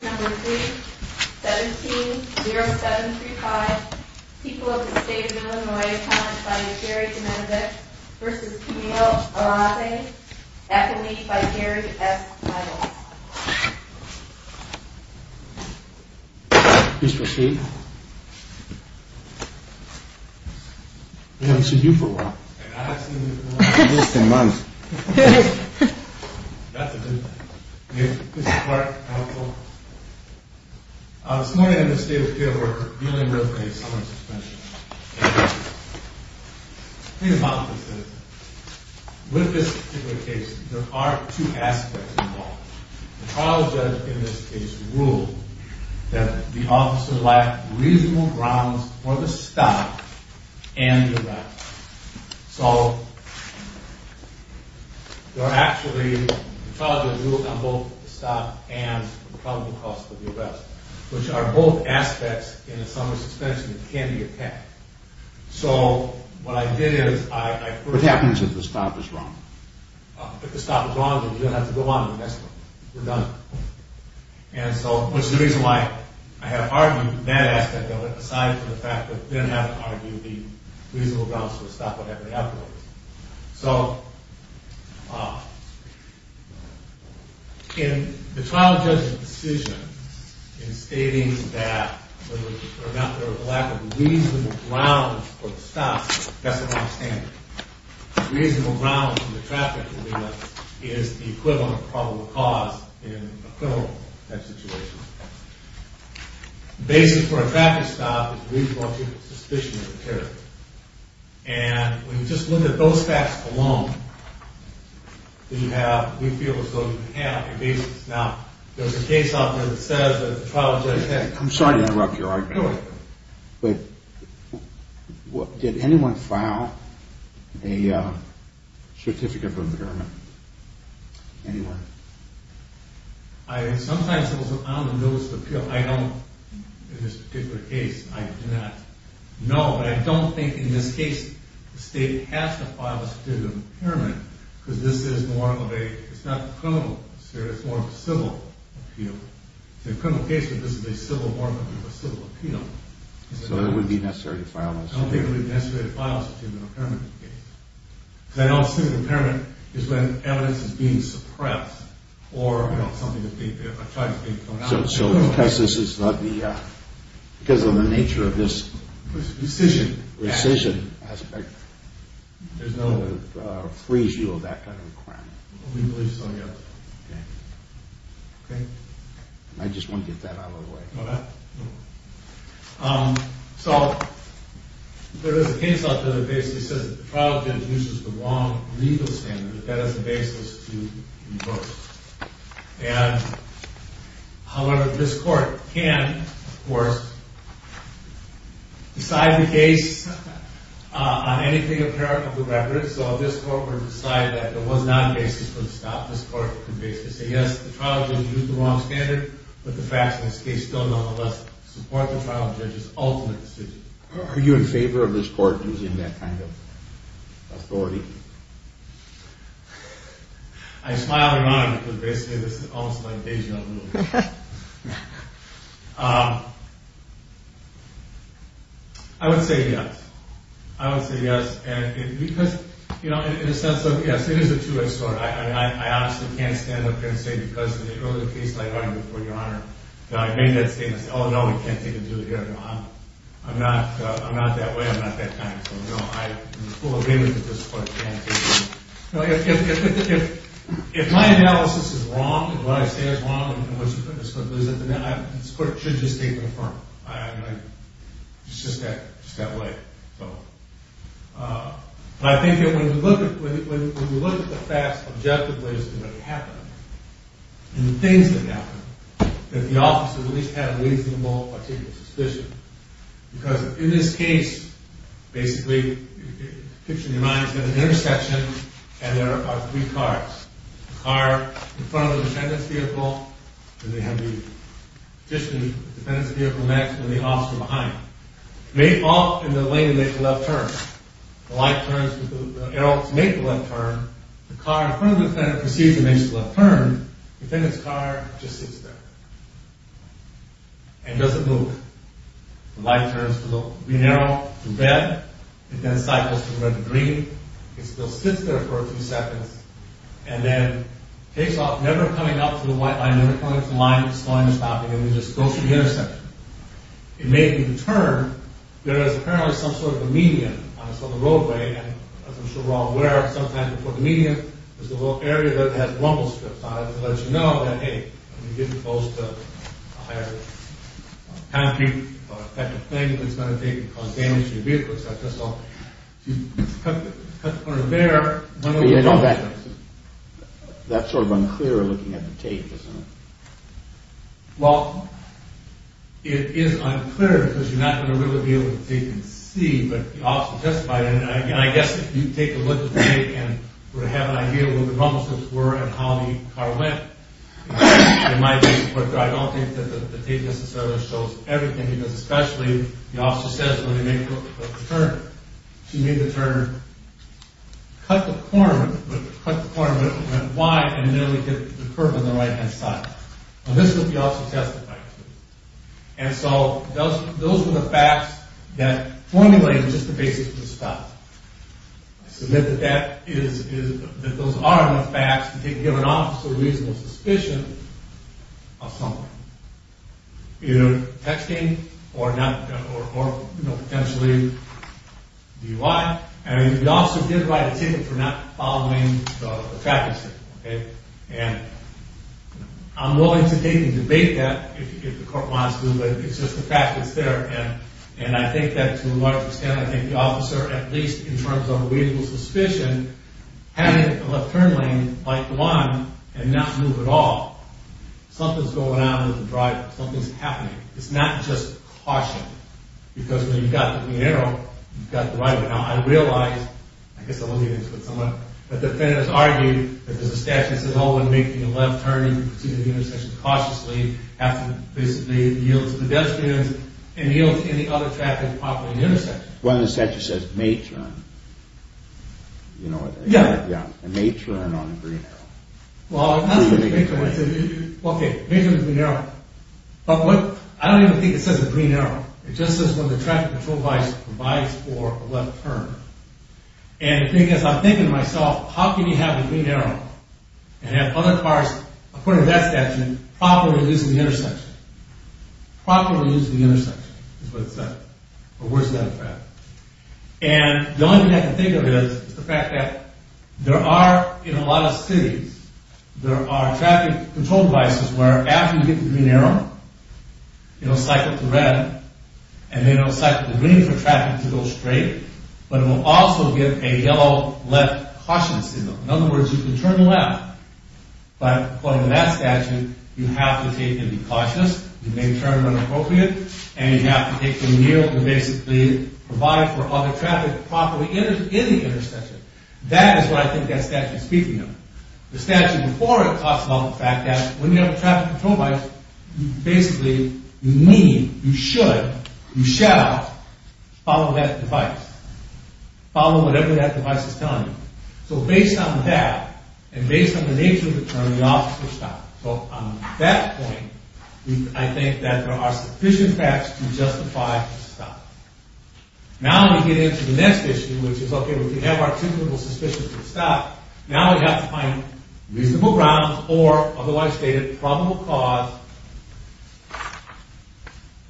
Number 3, 17-0735, people of the state of Illinois, comments by Jerry Domenovic v. Peniel Alate, affidavit by Jerry S. Myles. Please proceed. I haven't seen you for a while. And I haven't seen you for a while. Just a month. That's a good thing. Mr. Clark, counsel. This morning in the state of Illinois, dealing with a summer suspension. Please allow me to say this. With this particular case, there are two aspects involved. The trial judge in this case ruled that the officer lacked reasonable grounds for the stop and the lack. So, there are actually, the trial judge ruled on both the stop and the probable cause for the arrest, which are both aspects in a summer suspension that can be attacked. So, what I did is, I... What happens if the stop is wrong? If the stop is wrong, then you don't have to go on to the next one. We're done. And so, which is the reason why I have argued that aspect of it, aside from the fact that I didn't have to argue the reasonable grounds for the stop would have been afterwards. So... In the trial judge's decision in stating that there was a lack of reasonable grounds for the stop, that's an off-standard. Reasonable grounds for the traffic in Illinois is the equivalent of probable cause in a criminal-type situation. The basis for a traffic stop is reasonable suspicion of a terrorist. And when you just look at those facts alone, then you have... We feel as though you have a basis. Now, there's a case out there that says that the trial judge had... I'm sorry to interrupt your argument. Go ahead. But did anyone file a certificate for impairment? Anyone? Sometimes it was an on-the-nose appeal. I don't... In this particular case, I do not know. But I don't think, in this case, the state has to file a certificate of impairment because this is more of a... It's not criminal, sir. It's more of a civil appeal. In a criminal case, this is more of a civil appeal. So it would be necessary to file a certificate? I don't think it would be necessary to file a certificate of impairment. Because I don't assume impairment is when evidence is being suppressed or, you know, something is being... a charge is being thrown out. So because this is not the... Because of the nature of this... Decision. Decision aspect, there's no freeze-due of that kind of requirement? We believe so, yes. Okay. Okay? I just want to get that out of the way. Oh, that? Okay. So... There is a case out there that basically says that the trial judge uses the wrong legal standard. That is the basis to reverse. And... However, this court can, of course, decide the case on anything apparent of the record. So if this court were to decide that there was not a basis for the stop, this court can basically say, yes, the trial judge used the wrong standard, but the facts of this case still, nonetheless, support the trial judge's ultimate decision. Are you in favor of this court using that kind of authority? I smile and nod, because basically this is almost like Beijing on the move. I would say yes. I would say yes. And because... You know, in a sense of... Yes, it is a two-edged sword. I honestly can't stand up here and say because of the earlier case I heard, Your Honor, that I made that statement, oh, no, we can't take him to the hearing, Your Honor. I'm not that way. I'm not that kind. So, no, I am in full agreement with this court's annotation. If my analysis is wrong, and what I say is wrong, and this court loses it, then this court should just take the firm. I mean, it's just that way. So... But I think that when you look at the facts objectively, and the things that happened, that the officers at least had a reasonable, particular suspicion. Because in this case, basically, picture in your mind, there's an intersection, and there are three cars. The car in front of the defendant's vehicle, and they have the petitioner, the defendant's vehicle next, and the officer behind him. They all, in the lane, make a left turn. The light turns, the arrows make the left turn. The car in front of the defendant proceeds to make a left turn. The defendant's car just sits there. And doesn't move. The light turns, the green arrow, to red. It then cycles to the red and green. It still sits there for a few seconds, and then takes off, never coming up to the white line, never coming up to the line, just slowing and stopping, and then just goes through the intersection. It may be the turn. There is apparently some sort of a median on this other roadway, and as I'm sure we're all aware, sometimes before the median, there's a little area that has rumble strips on it to let you know that, hey, you're supposed to hire a concrete, or a type of thing that's going to take and cause damage to your vehicle, so I guess I'll cut the corner there. That's sort of unclear, looking at the tape, isn't it? Well, it is unclear, because you're not going to really be able to see, but the officer testified, and I guess if you take a look at the tape, and have an idea of where the rumble strips were, and how the car went, it might be, but I don't think that the tape necessarily shows everything, because especially, the officer says when they make the turn, she made the turn, cut the corner, went wide, and nearly hit the curb on the right-hand side. This is what the officer testified to, and so those were the facts that formulated just the basis for the stop. I submit that those are enough facts to give an officer a reasonable suspicion of something, either texting, or potentially DUI, and the officer did write a ticket for not following the traffic signal, and I'm willing to take and debate that, if the court wants to, but it's just the fact that it's there, and I think that to a large extent, I think the officer, at least in terms of a reasonable suspicion, had a left-turn lane, like the one, and not move at all. Something's going on with the driver. Something's happening. It's not just caution, because when you've got the arrow, you've got the right of it. Now, I realize, I guess I won't get into it, but the defendant has argued that there's a statute that says, oh, when making a left turn, you have to proceed to the intersection cautiously, have to basically yield to the pedestrians, and yield to any other traffic parked at the intersection. Well, the statute says, may turn, you know, and may turn on the green arrow. Well, okay, may turn the green arrow, but I don't even think it says the green arrow. It just says when the traffic patrol provides for a left turn, and I'm thinking to myself, how can you have the green arrow, and have other cars, according to that statute, properly using the intersection? Properly using the intersection is what it says, or where's the other traffic? And the only thing I can think of is the fact that there are, in a lot of cities, there are traffic control devices where after you get the green arrow, it'll cycle to red, and then it'll cycle to green for traffic to go straight, but it'll also give a yellow left caution signal. In other words, you can turn left, but according to that statute, you have to take any cautious, you may turn when appropriate, and you have to take the yield to basically provide for other traffic properly in the intersection. That is what I think that statute is speaking of. The statute before it talks about the fact that when you have a traffic control device, you basically, you need, you should, you shall, follow that device. Follow whatever that device is telling you. So based on that, and based on the nature of the turn, you ought to stop. So on that point, I think that there are sufficient facts to justify the stop. Now we get into the next issue, which is, okay, if we have our typical suspicion to stop, now we have to find reasonable grounds, or otherwise stated, probable cause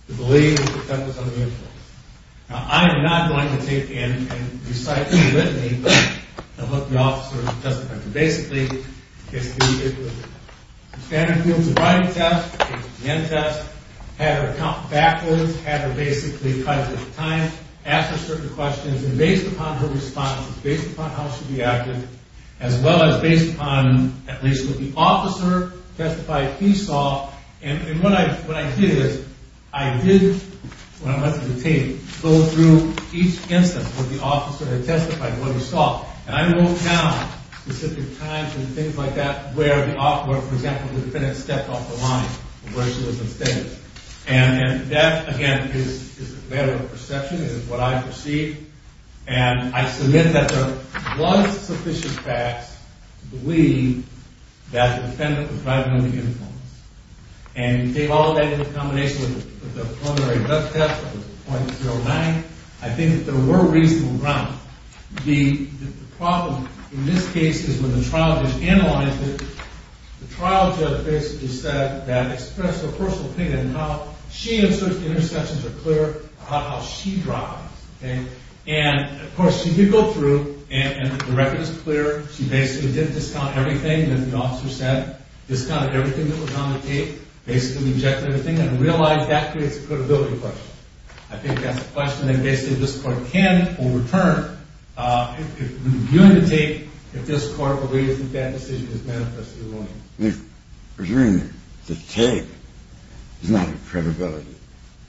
to believe that that was unusual. Now I am not going to take in and recite with me what the officer testified. Basically, it was standard fields of writing test, had her count backwards, had her basically time, answer certain questions, and based upon her responses, based upon how she reacted, as well as based upon at least what the officer testified he saw, and what I did is, I did, when I was on the team, go through each instance where the officer had testified what he saw. And I wrote down specific times and things like that, where, for example, the defendant stepped off the line, or where she was mistaken. And that, again, is a matter of perception. It is what I perceive. And I submit that there was sufficient facts to believe that the defendant was driving under the influence. And we gave all of that in combination with the preliminary death test, which was .09. I think that there were reasonable grounds. The problem in this case is when the trial judge analyzed it, the trial judge basically said that expressed her personal opinion on how she and certain intersections are clear about how she drives. And, of course, she did go through, and the record is clear. She basically did discount everything that the officer said, discounted everything that was on the tape, basically rejected everything, and realized that creates a credibility question. I think that's a question that basically this court can overturn if reviewing the tape, if this court believes that that decision is manifestly wrong. If reviewing the tape is not a credibility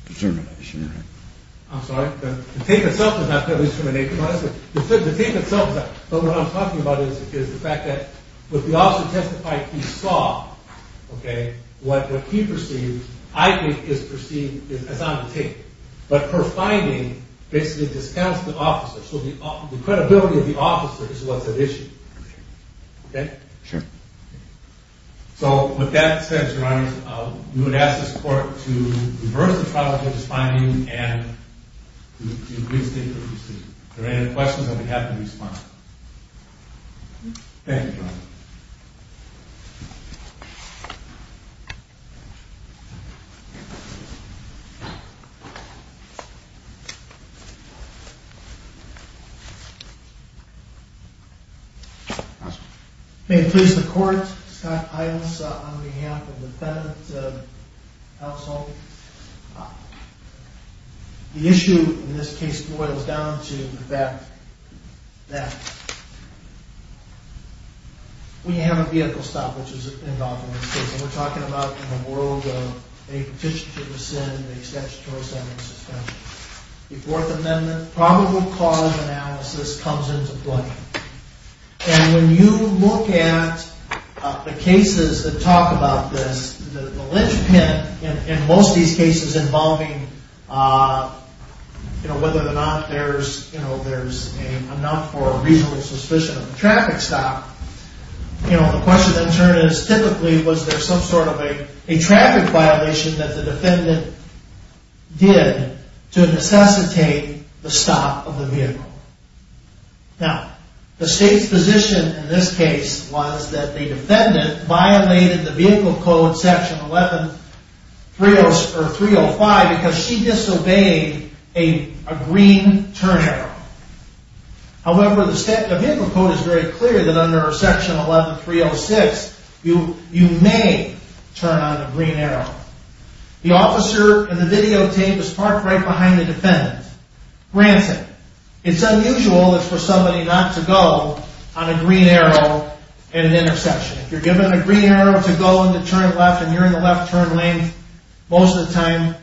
determination, right? I'm sorry? The tape itself is not credibility determination. The tape itself is not. But what I'm talking about is the fact that when the officer testified, he saw what he perceived, I think, is perceived as on the tape. But her finding basically discounts the officer. So the credibility of the officer is what's at issue. Okay? Sure. So, with that said, Your Honor, you would ask this court to reverse the trial judge's finding and do a brief statement. If there are any questions, I would be happy to respond. Thank you, Your Honor. May it please the Court, Scott Iles, on behalf of the defendant, Alice Holt. The issue in this case boils down to the fact that when you have a vehicle stop, which is a pend-off in this case, and we're talking about in the world of a petition to rescind, a statutory sentence suspension, the Fourth Amendment probable cause analysis comes into play. And when you look at the cases that talk about this, the linchpin in most of these cases involving whether or not there's enough or a reasonable suspicion of a traffic stop, the question in turn is, typically, was there some sort of a traffic violation that the defendant did to of the vehicle? Now, the State's position in this case was that the defendant violated the Vehicle Code, Section 11-305, because she disobeyed a green turn arrow. However, the Vehicle Code is very clear that under Section 11-306 you may turn on a green arrow. The officer in the videotape is parked right behind the defendant. Granted, it's unusual for somebody not to go on a green arrow at an intersection. If you're given a green arrow to go and turn left and you're in the left turn lane, most of the time,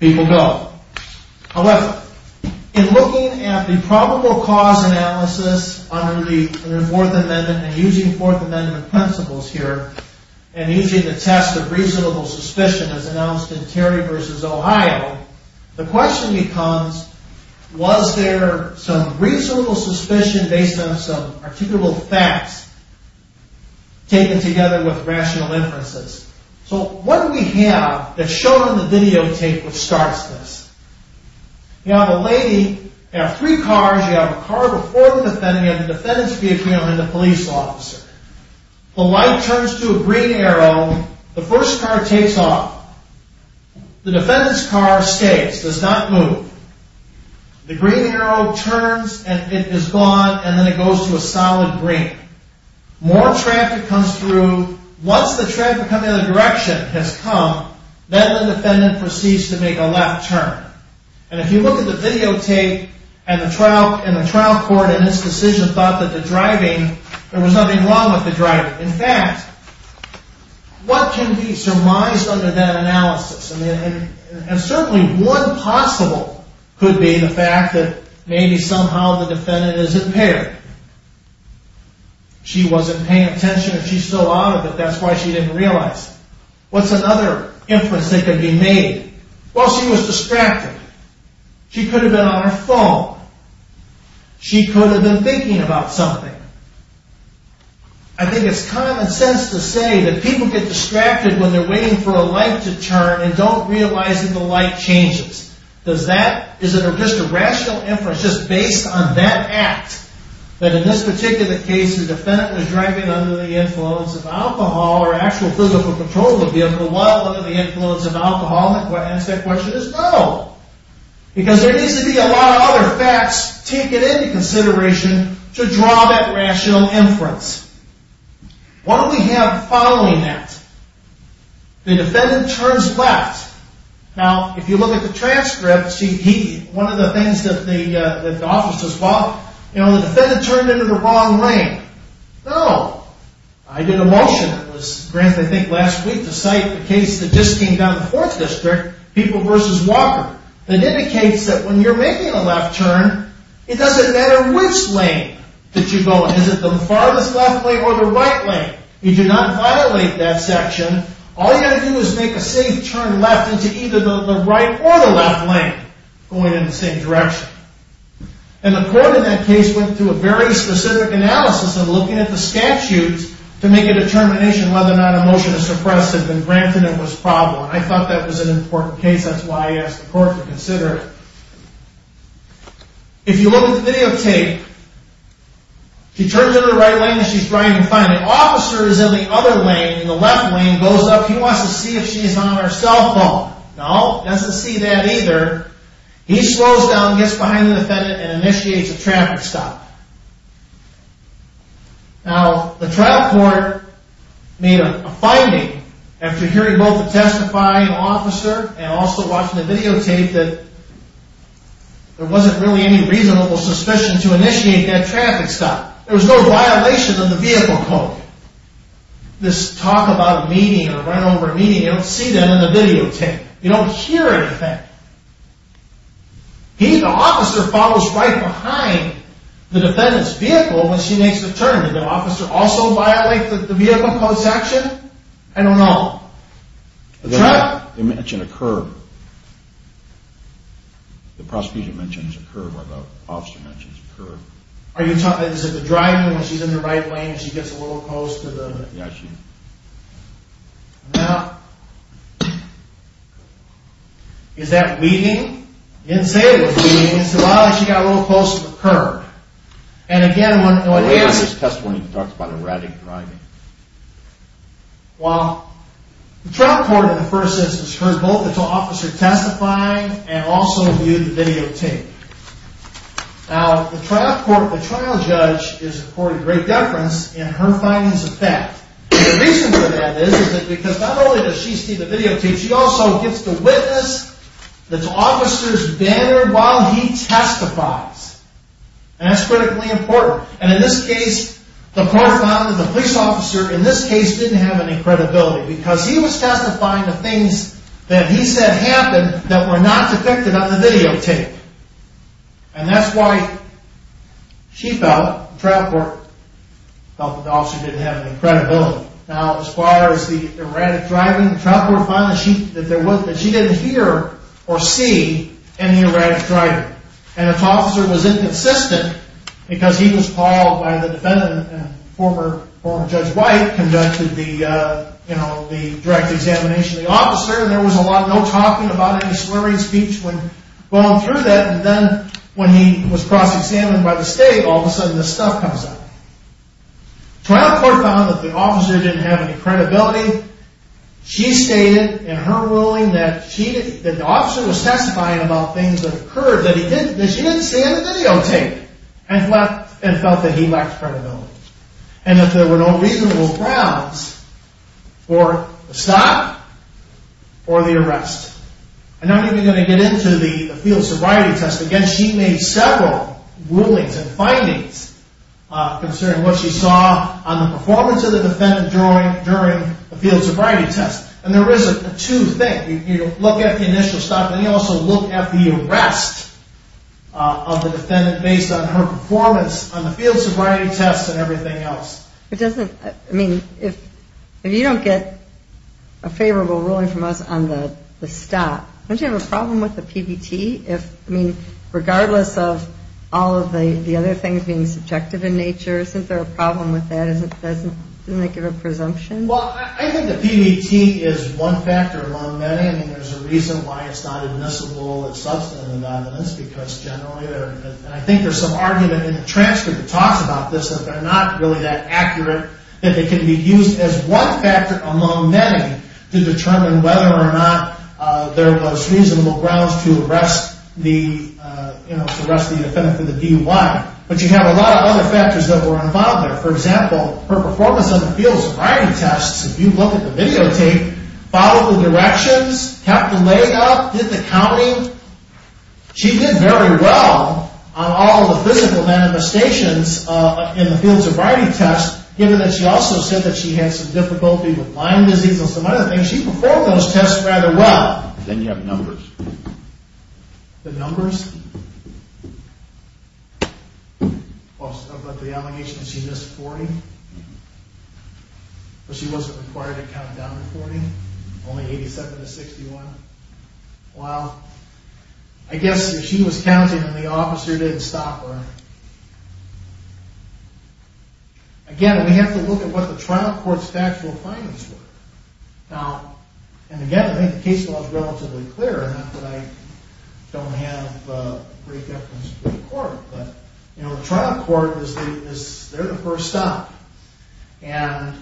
people go. However, in looking at the probable cause analysis under the Fourth Amendment, and using Fourth Amendment principles here, and using the test of reasonable suspicion as announced in Terry v. Ohio, the question becomes, was there some reasonable suspicion based on some articulable facts taken together with rational inferences? What do we have that's shown in the videotape which starts this? You have a lady, you have three cars, you have a car before the defendant, you have the defendant's vehicle, and the police officer. The light turns to a green arrow, the first car takes off. The defendant's car skates, does not move. The green arrow turns and it is gone, and then it goes to a solid green. More traffic comes through. Once the traffic coming in the direction has come, then the defendant proceeds to make a left turn. And if you look at the videotape and the trial court in this decision thought that the driving, there was nothing wrong with the driving. In fact, what can be surmised under that analysis? And certainly one possible could be the fact that maybe somehow the defendant is impaired. She wasn't paying attention and she's still out of it, that's why she didn't realize. What's another inference that could be made? Well, she was distracted. She could have been on her phone. She could have been thinking about something. I think it's common sense to say that people get distracted when they're waiting for a light to turn and don't realize that the light changes. Does that, is it just a rational inference just based on that act that in this particular case the defendant was driving under the influence of alcohol or actual physical control of the alcohol under the influence of alcohol? The answer to that question is no. Because there needs to be a lot of other facts taken into consideration to draw that rational inference. What do we have following that? The defendant turns left. Now, if you look at the transcript see he, one of the things that the office says, well you know, the defendant turned into the wrong lane. No. I did a motion, it was granted I think last week, to cite the case that just came down in the 4th District, People v. Walker, that indicates that when you're making a left turn it doesn't matter which lane that you go in. Is it the farthest left lane or the right lane? You do not violate that section. All you have to do is make a safe turn left into either the right or the left lane, going in the same direction. And the court in that case went through a very specific analysis of looking at the statutes to make a determination whether or not a motion to suppress had been granted and was probable. And I thought that was an important case, that's why I asked the court to consider it. If you look at the videotape she turns into the right lane and she's driving fine. The officer is in the other lane, in the left lane, goes up he wants to see if she's on her cell phone. No, he doesn't see that either. He slows down gets behind the defendant and initiates a traffic stop. Now, the trial court made a finding after hearing both the testifying officer and also watching the videotape that there wasn't really any reasonable suspicion to initiate that traffic stop. There was no violation of the vehicle code. This talk about a meeting or run over a meeting, you don't see that in the videotape. You don't hear anything. He, the officer, follows right behind the defendant's vehicle when she makes the turn. Did the officer also violate the vehicle code's action? I don't know. They mention a curb. The prosecution mentions a curb or the officer mentions a curb. Are you talking, is it the driving when she's in the right lane and she gets a little close to the... Yeah, she... Now, is that leading? He didn't say it was leading. He said, well, she got a little close to the curb. And again, when he asks his testimony, he talks about erratic driving. Well, the trial court in the first instance heard both the officer testifying and also viewed the videotape. Now, the trial court, the trial judge is according to great deference in her findings of fact. And the reason for that is that because not only does she see the videotape, she also gets to witness the officer's banner while he testifies. And that's critically important. And in this case, the police officer in this case didn't have any credibility because he was testifying to things that he said happened that were not true. And that's why she felt, the trial court felt that the officer didn't have any credibility. Now, as far as the erratic driving, the trial court found that she didn't hear or see any erratic driving. And the officer was inconsistent because he was called by the defendant and former Judge White conducted the, you know, the direct examination of the officer and there was no talking about any slurring speech when going through that and then when he was cross-examined by the state, all of a sudden this stuff comes up. The trial court found that the officer didn't have any credibility. She stated in her ruling that the officer was testifying about things that occurred that she didn't see in the videotape and felt that he lacked credibility. And that there were no reasonable grounds for the stop or the arrest. I'm not even going to get into the field sobriety test because she made several rulings and findings concerning what she saw on the performance of the defendant during the field sobriety test. And there is a two-thing. You look at the initial stop and you also look at the arrest of the defendant based on her performance on the field sobriety test and everything else. It doesn't, I mean, if you don't get a favorable ruling from us on the stop, don't you have a problem with the PBT? I mean, regardless of all of the other things being subjective in nature, isn't there a problem with that? Doesn't it give a presumption? Well, I think the PBT is one factor among many. I mean, there's a reason why it's not admissible as substantive evidence because generally I think there's some argument in the transcript that talks about this, that they're not really that accurate, that they can be used as one factor among many to determine whether or not there was reasonable grounds to arrest the defendant for the D-1. But you have a lot of other factors that were involved there. For example, her performance on the field sobriety test, if you look at the videotape, followed the directions, kept the leg up, did the counting. She did very well on all the physical manifestations in the field sobriety test given that she also said that she had some difficulty with Lyme disease and some other things she performed those tests rather well. Then you have numbers. The numbers? Of the allegations she missed 40? But she wasn't required to count down to 40? Only 87 to 61? Well, I guess she was counting and the officer didn't stop her. Again, we have to look at what the trial court's factual findings were. And again, I think the case law is relatively clear, not that I don't have great deference to the court, but the trial court, they're the first stop. And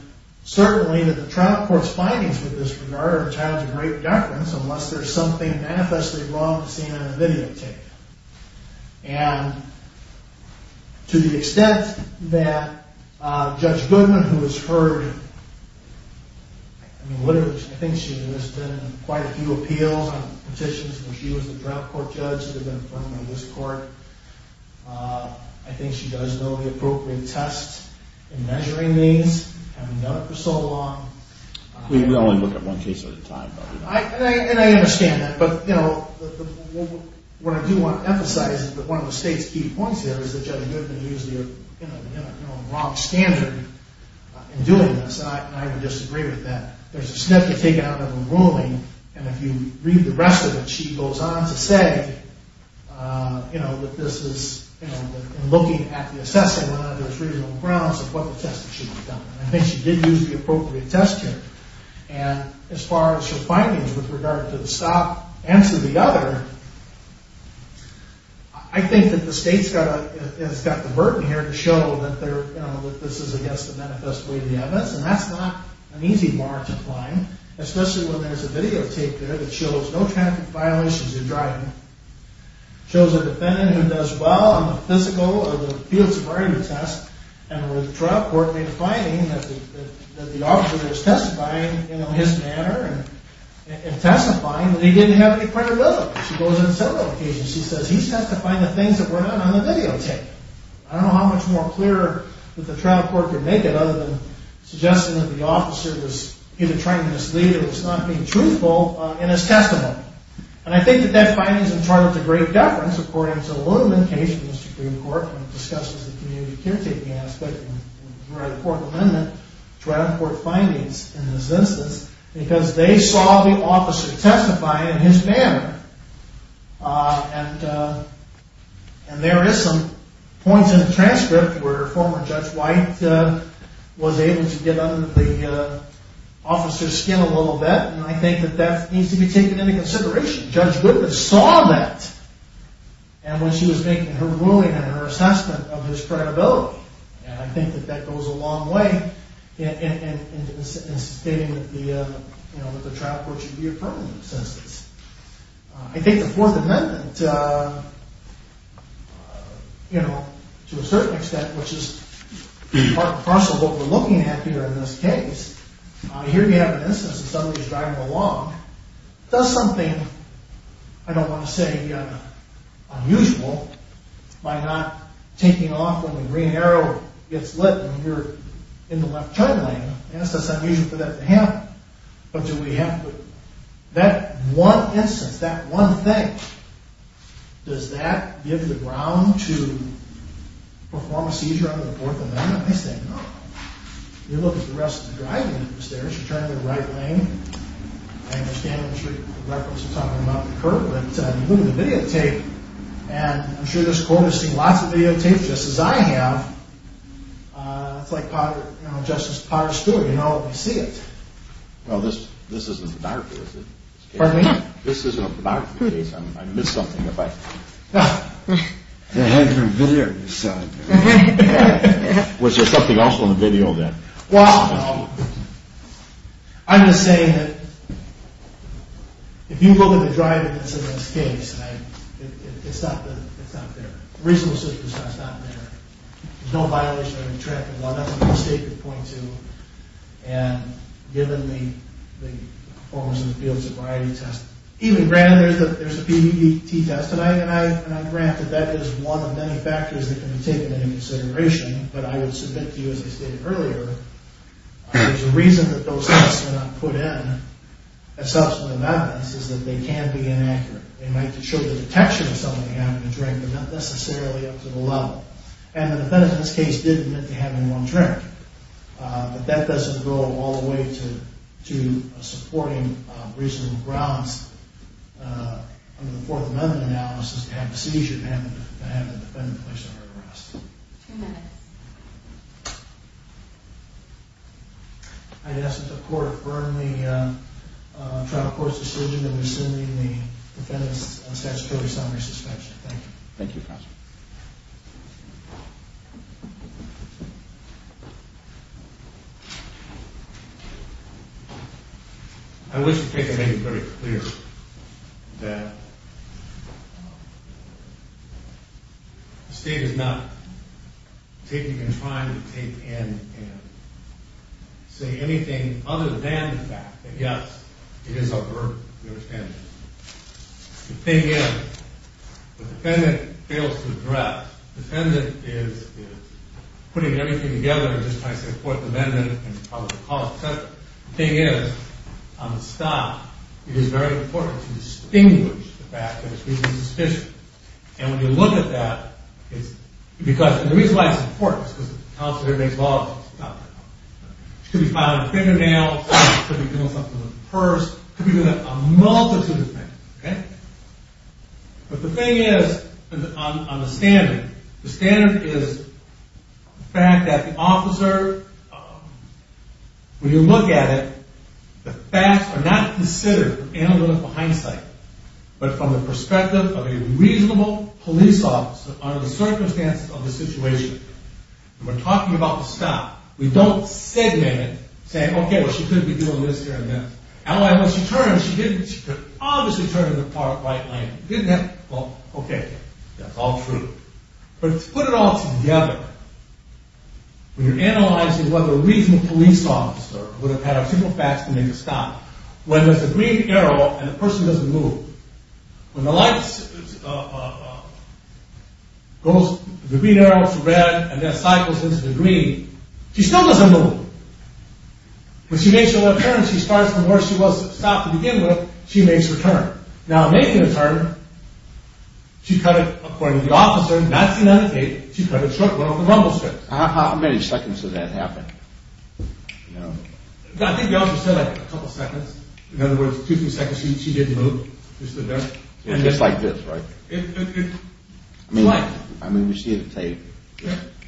certainly the trial court's findings with this regard are a challenge of great deference unless there's something manifestly wrong seen in the videotape. And to the extent that Judge Goodman, who has heard I think she has been in quite a few appeals on petitions where she was the trial court judge that had been in front of this court, I think she does know the appropriate tests in measuring these. We've known it for so long. We only look at one case at a time. And I understand that, but what I do want to emphasize is that one of the state's key points here is that Judge Goodman used the wrong standard in doing this, and I would disagree with that. There's a snippet taken out of the ruling, and if you read the rest of it, she goes on to say that this is, in looking at the assessment under its reasonable grounds of what the tests should have done. I think she did use the appropriate test here. And as far as her findings with regard to the stop and to the other, I think that the state's got the burden here to show that this is, I guess, the manifest way to the evidence, and that's not an easy bar to climb, especially when there's a videotape there that shows no traffic violations in driving, shows a defendant who does well on the physical or the field sobriety test, and where the trial court may be finding that the officer is testifying in his manner, and testifying, but he didn't have any credibility. She goes on several occasions, she says, he's testifying to things that were not on the videotape. I don't know how much more clear that the trial court could make it other than suggesting that the officer was either trying to mislead, or was not being truthful in his testimony. And I think that that finding is in charge of the great deference, according to the Ludeman case in the Supreme Court, discussed as a community caretaking aspect, and the court amendment, trial court findings in this instance, because they saw the officer testify in his manner. And there is some points in the transcript where former Judge White was able to get under the officer's skin a little bit, and I think that that needs to be taken into consideration. Judge Goodman saw that, and when she was making her ruling and her assessment of his credibility, and I think that that goes a long way in stating that the trial court should be a permanent existence. I think the Fourth Amendment to a certain extent, which is part and parcel of what we're looking at here in this case, here we have an instance of somebody driving along, does something I don't want to say unusual, by not taking off when the green arrow gets lit when you're in the left turn lane, I guess that's unusual for that to happen. But do we have to that one instance, that one thing, does that give the ground to perform a seizure under the Fourth Amendment? I say no. You look at the rest of the driving, she turned in the right lane, and I'm sure the records are talking about the curb, but you look at the videotape, and I'm sure you're noticing lots of videotapes, just as I have, it's like Justice Potter Stewart, you know it when you see it. Well, this isn't a pornography, is it? Pardon me? This isn't a pornography case, I missed something if I... Was there something else on the video then? Well, no. I'm just saying that if you look at the driving that's in this case, it's not there. The reasonable seizure is not there. There's no violation of the traffic law, nothing the state could point to, and given the performance in the field sobriety test, even granted there's a PBDT test tonight, and I grant that that is one of many factors that can be taken into consideration, but I would submit to you, as I stated earlier, there's a reason that those tests were not put in at subsequent events, is that they can be inaccurate. They might show the detection of someone having a drink, but not necessarily up to the level. And the defendant in this case did admit to having one drink, but that doesn't go all the way to supporting reasonable grounds under the Fourth Amendment analysis to have a seizure to have the defendant placed under arrest. Ten minutes. I'd ask that the Court affirm the testimony of the defendants on statutory summary suspension. Thank you. Thank you, Counselor. I wish to take a minute to make it very clear that the State is not taking the time to take in and say anything other than the fact that yes, it is a burden. The thing is, the defendant fails to address. The defendant is putting everything together just by saying Fourth Amendment and the cost, et cetera. The thing is, on the stop, it is very important to distinguish the fact that it's reasonably suspicious. And when you look at that, the reason why it's important is because the counselor makes laws that stop that. She could be filing a fingernail, she could be doing something with a purse, she could be doing a multitude of things. Okay? But the thing is, on the standard, the standard is the fact that the officer, when you look at it, the facts are not considered in a moment of hindsight, but from the perspective of a reasonable police officer under the circumstances of the situation. We're talking about the stop. We don't segment it, saying, okay, well she could be doing this here and there. And when she turns, she didn't, she could obviously turn in the right lane. Well, okay, that's all true. But to put it all together, when you're analyzing whether a reasonable police officer would have had a simple fact to make a stop, when there's a green arrow and the person doesn't move, when the light goes, the green arrow is red and that cycles into the green, she still doesn't move. When she makes a little turn, she starts from where she was stopped to begin with, she makes her turn. Now, making a turn, she cut it, according to the officer, not seen on the tape, she cut it short, went off the grumble strips. How many seconds did that happen? I think the officer said a couple seconds. In other words, two, three seconds, she didn't move. Just like this, right? I mean, we see it on tape,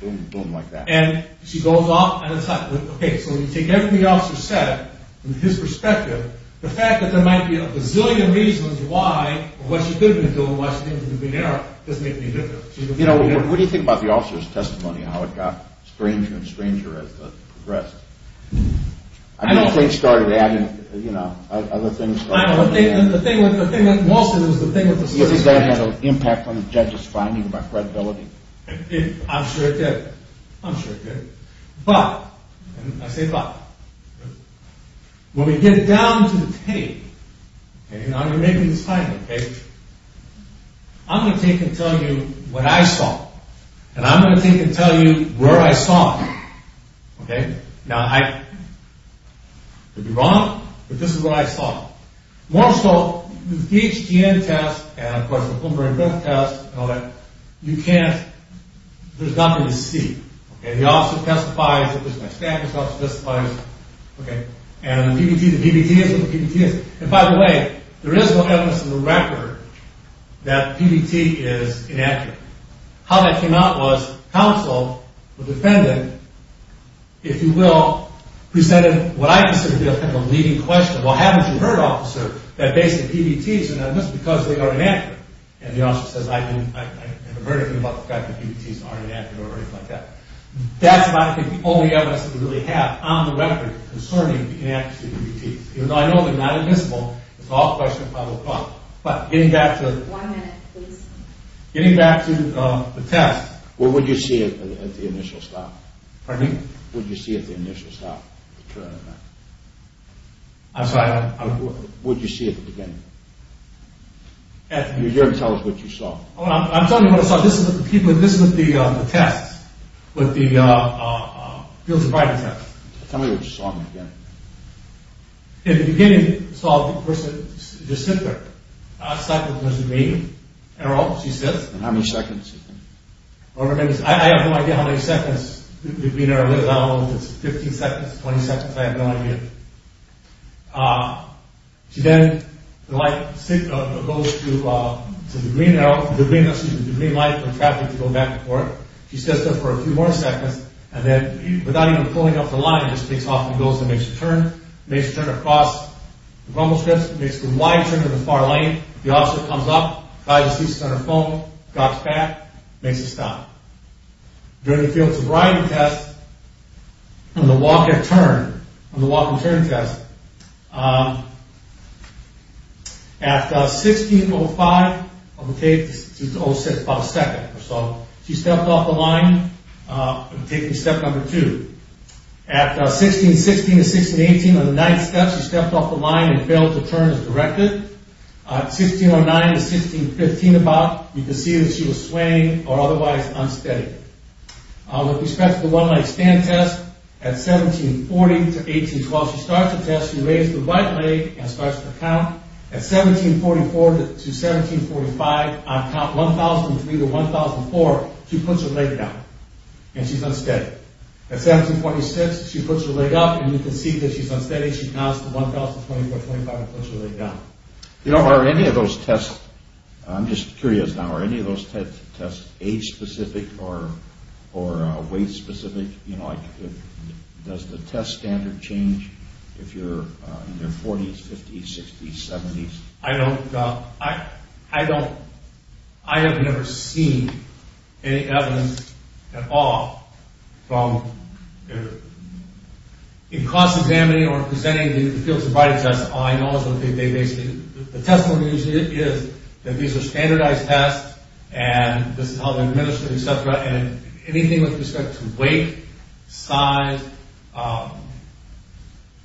boom, boom, like that. And she goes off at a time. Okay, so when you take everything the officer said, from his perspective, the fact that there might be a gazillion reasons why she could have been doing what she did with the green arrow doesn't make any difference. You know, what do you think about the officer's testimony and how it got stranger and stranger as it progressed? I don't know. I mean, things started adding, you know, other things started adding. I don't know. The thing with Wilson is the thing with the... Did that have an impact on the judge's finding about credibility? I'm sure it did. I'm sure it did. But, and I say but, when we get down to the tape, okay, now you're making this final, okay, I'm going to take and tell you what I saw, and I'm going to take and tell you where I saw it. Okay? Now, I could be wrong, but this is what I saw. More so, the THTN test and, of course, the pulmonary breath test and all that, you can't, there's nothing to see. And the officer testifies, my staff testifies, and the PBT, the PBT is what the PBT is. And by the way, there is no evidence in the record that PBT is inaccurate. How that came out was, counsel, the defendant, if you will, presented what I consider to be a kind of a leading question. Well, haven't you heard, officer, that basically PBTs are not admissible because they are inaccurate? And the officer says, I have a verdict about the fact that PBTs are inaccurate or anything like that. That's, I think, the only evidence that we really have on the record concerning the inaccuracy of PBTs. Even though I know they're not admissible, it's all a question of public thought. But, getting back to the test, what would you see at the initial stop? Pardon me? What would you see at the initial stop? I'm sorry? What would you see at the beginning? You're here to tell us what you saw. I'm telling you what I saw. This is with the test. With the Fields of Privacy test. Tell me what you saw in the beginning. In the beginning, I saw a person just sit there. I stopped and there's a name, an arrow, she sits. And how many seconds? I have no idea how many seconds the green arrow lives, I don't know if it's 15 seconds, 20 seconds, I have no idea. She then goes to the green arrow, the green light for traffic to go back and forth. She sits there for a few more seconds and then, without even pulling up the line, just takes off and goes and makes a turn. Makes a turn across the bumble strips, makes a wide turn to the far lane. The officer comes up, by the seat of her phone, goes back, makes a stop. During the Fields of Privacy test, on the walk and turn, on the walk and turn test, at 16.05, I'm going to take, 06, about a second or so, she stepped off the line, taking step number 2. At 16.16 and 16.18, on the 9th step, she stepped off the line and failed to turn as directed. At 16.09 and 16.15, about, you can see that she was swaying or otherwise unsteady. With respect to the one-leg stand test, at 17.40 to 18.12, she starts the test, she raises her right leg and starts to count. At 17.44 to 17.45, on count 1,003 to 1,004, she puts her leg down and she's unsteady. At 17.26, she puts her leg up and you can see that she's unsteady. You know, are any of those tests, I'm just curious now, are any of those tests age-specific or weight-specific? You know, does the test standard change if you're in your 40s, 50s, 60s, 70s? I don't, I have never seen any evidence at all from in cost provided tests. All I know is that they basically, the testimony usually is that these are standardized tests and this is how they're administered, etc. And anything with respect to weight, size,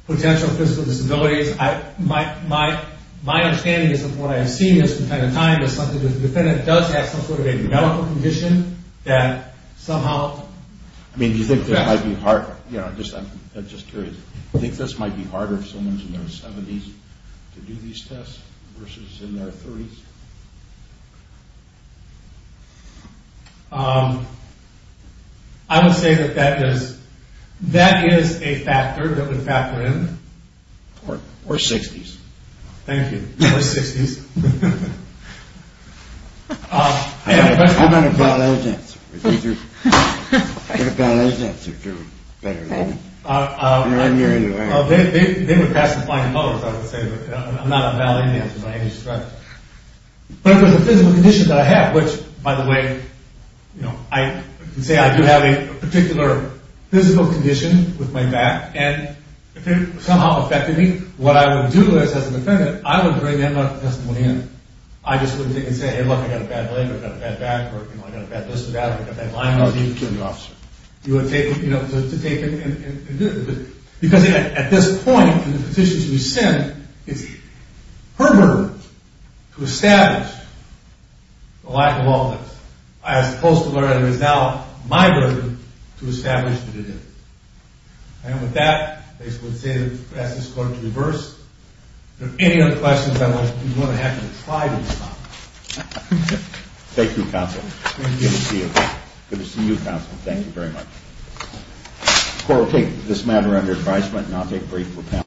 potential physical disabilities, my understanding is that what I have seen this entire time is something that if the defendant does have some sort of a medical condition that somehow... I mean, do you think this might be harder? You know, I'm just curious. Do you think this might be harder if someone's in their 70s to do these tests versus in their 30s? I would say that that is a factor that would factor in. Or 60s. Thank you. Or 60s. I've got a better answer. I've got a better answer if you're better than me. They would pass me flying colors, I would say. I'm not a ballet dancer by any stretch. But if it was a physical condition that I have, which, by the way, you know, I can say I do have a particular physical condition with my back, and if it somehow affected me, what I would do as a defendant, I would bring that medical testimony in. I just wouldn't take it and say, hey, look, I've got a bad leg, I've got a bad back, or I've got a bad distal back, I've got a bad line. You would take it, you know, to take it and do it. Because at this point, in the positions we send, it's her burden to establish the lack of all this. I was supposed to learn as a result my burden to establish that it is. And with that, I would ask this court to reverse. If there are any other questions, I'm going to have to try to respond. Thank you, counsel. Good to see you. Good to see you, counsel. Thank you very much. The court will take this matter under advisement and I'll take brief.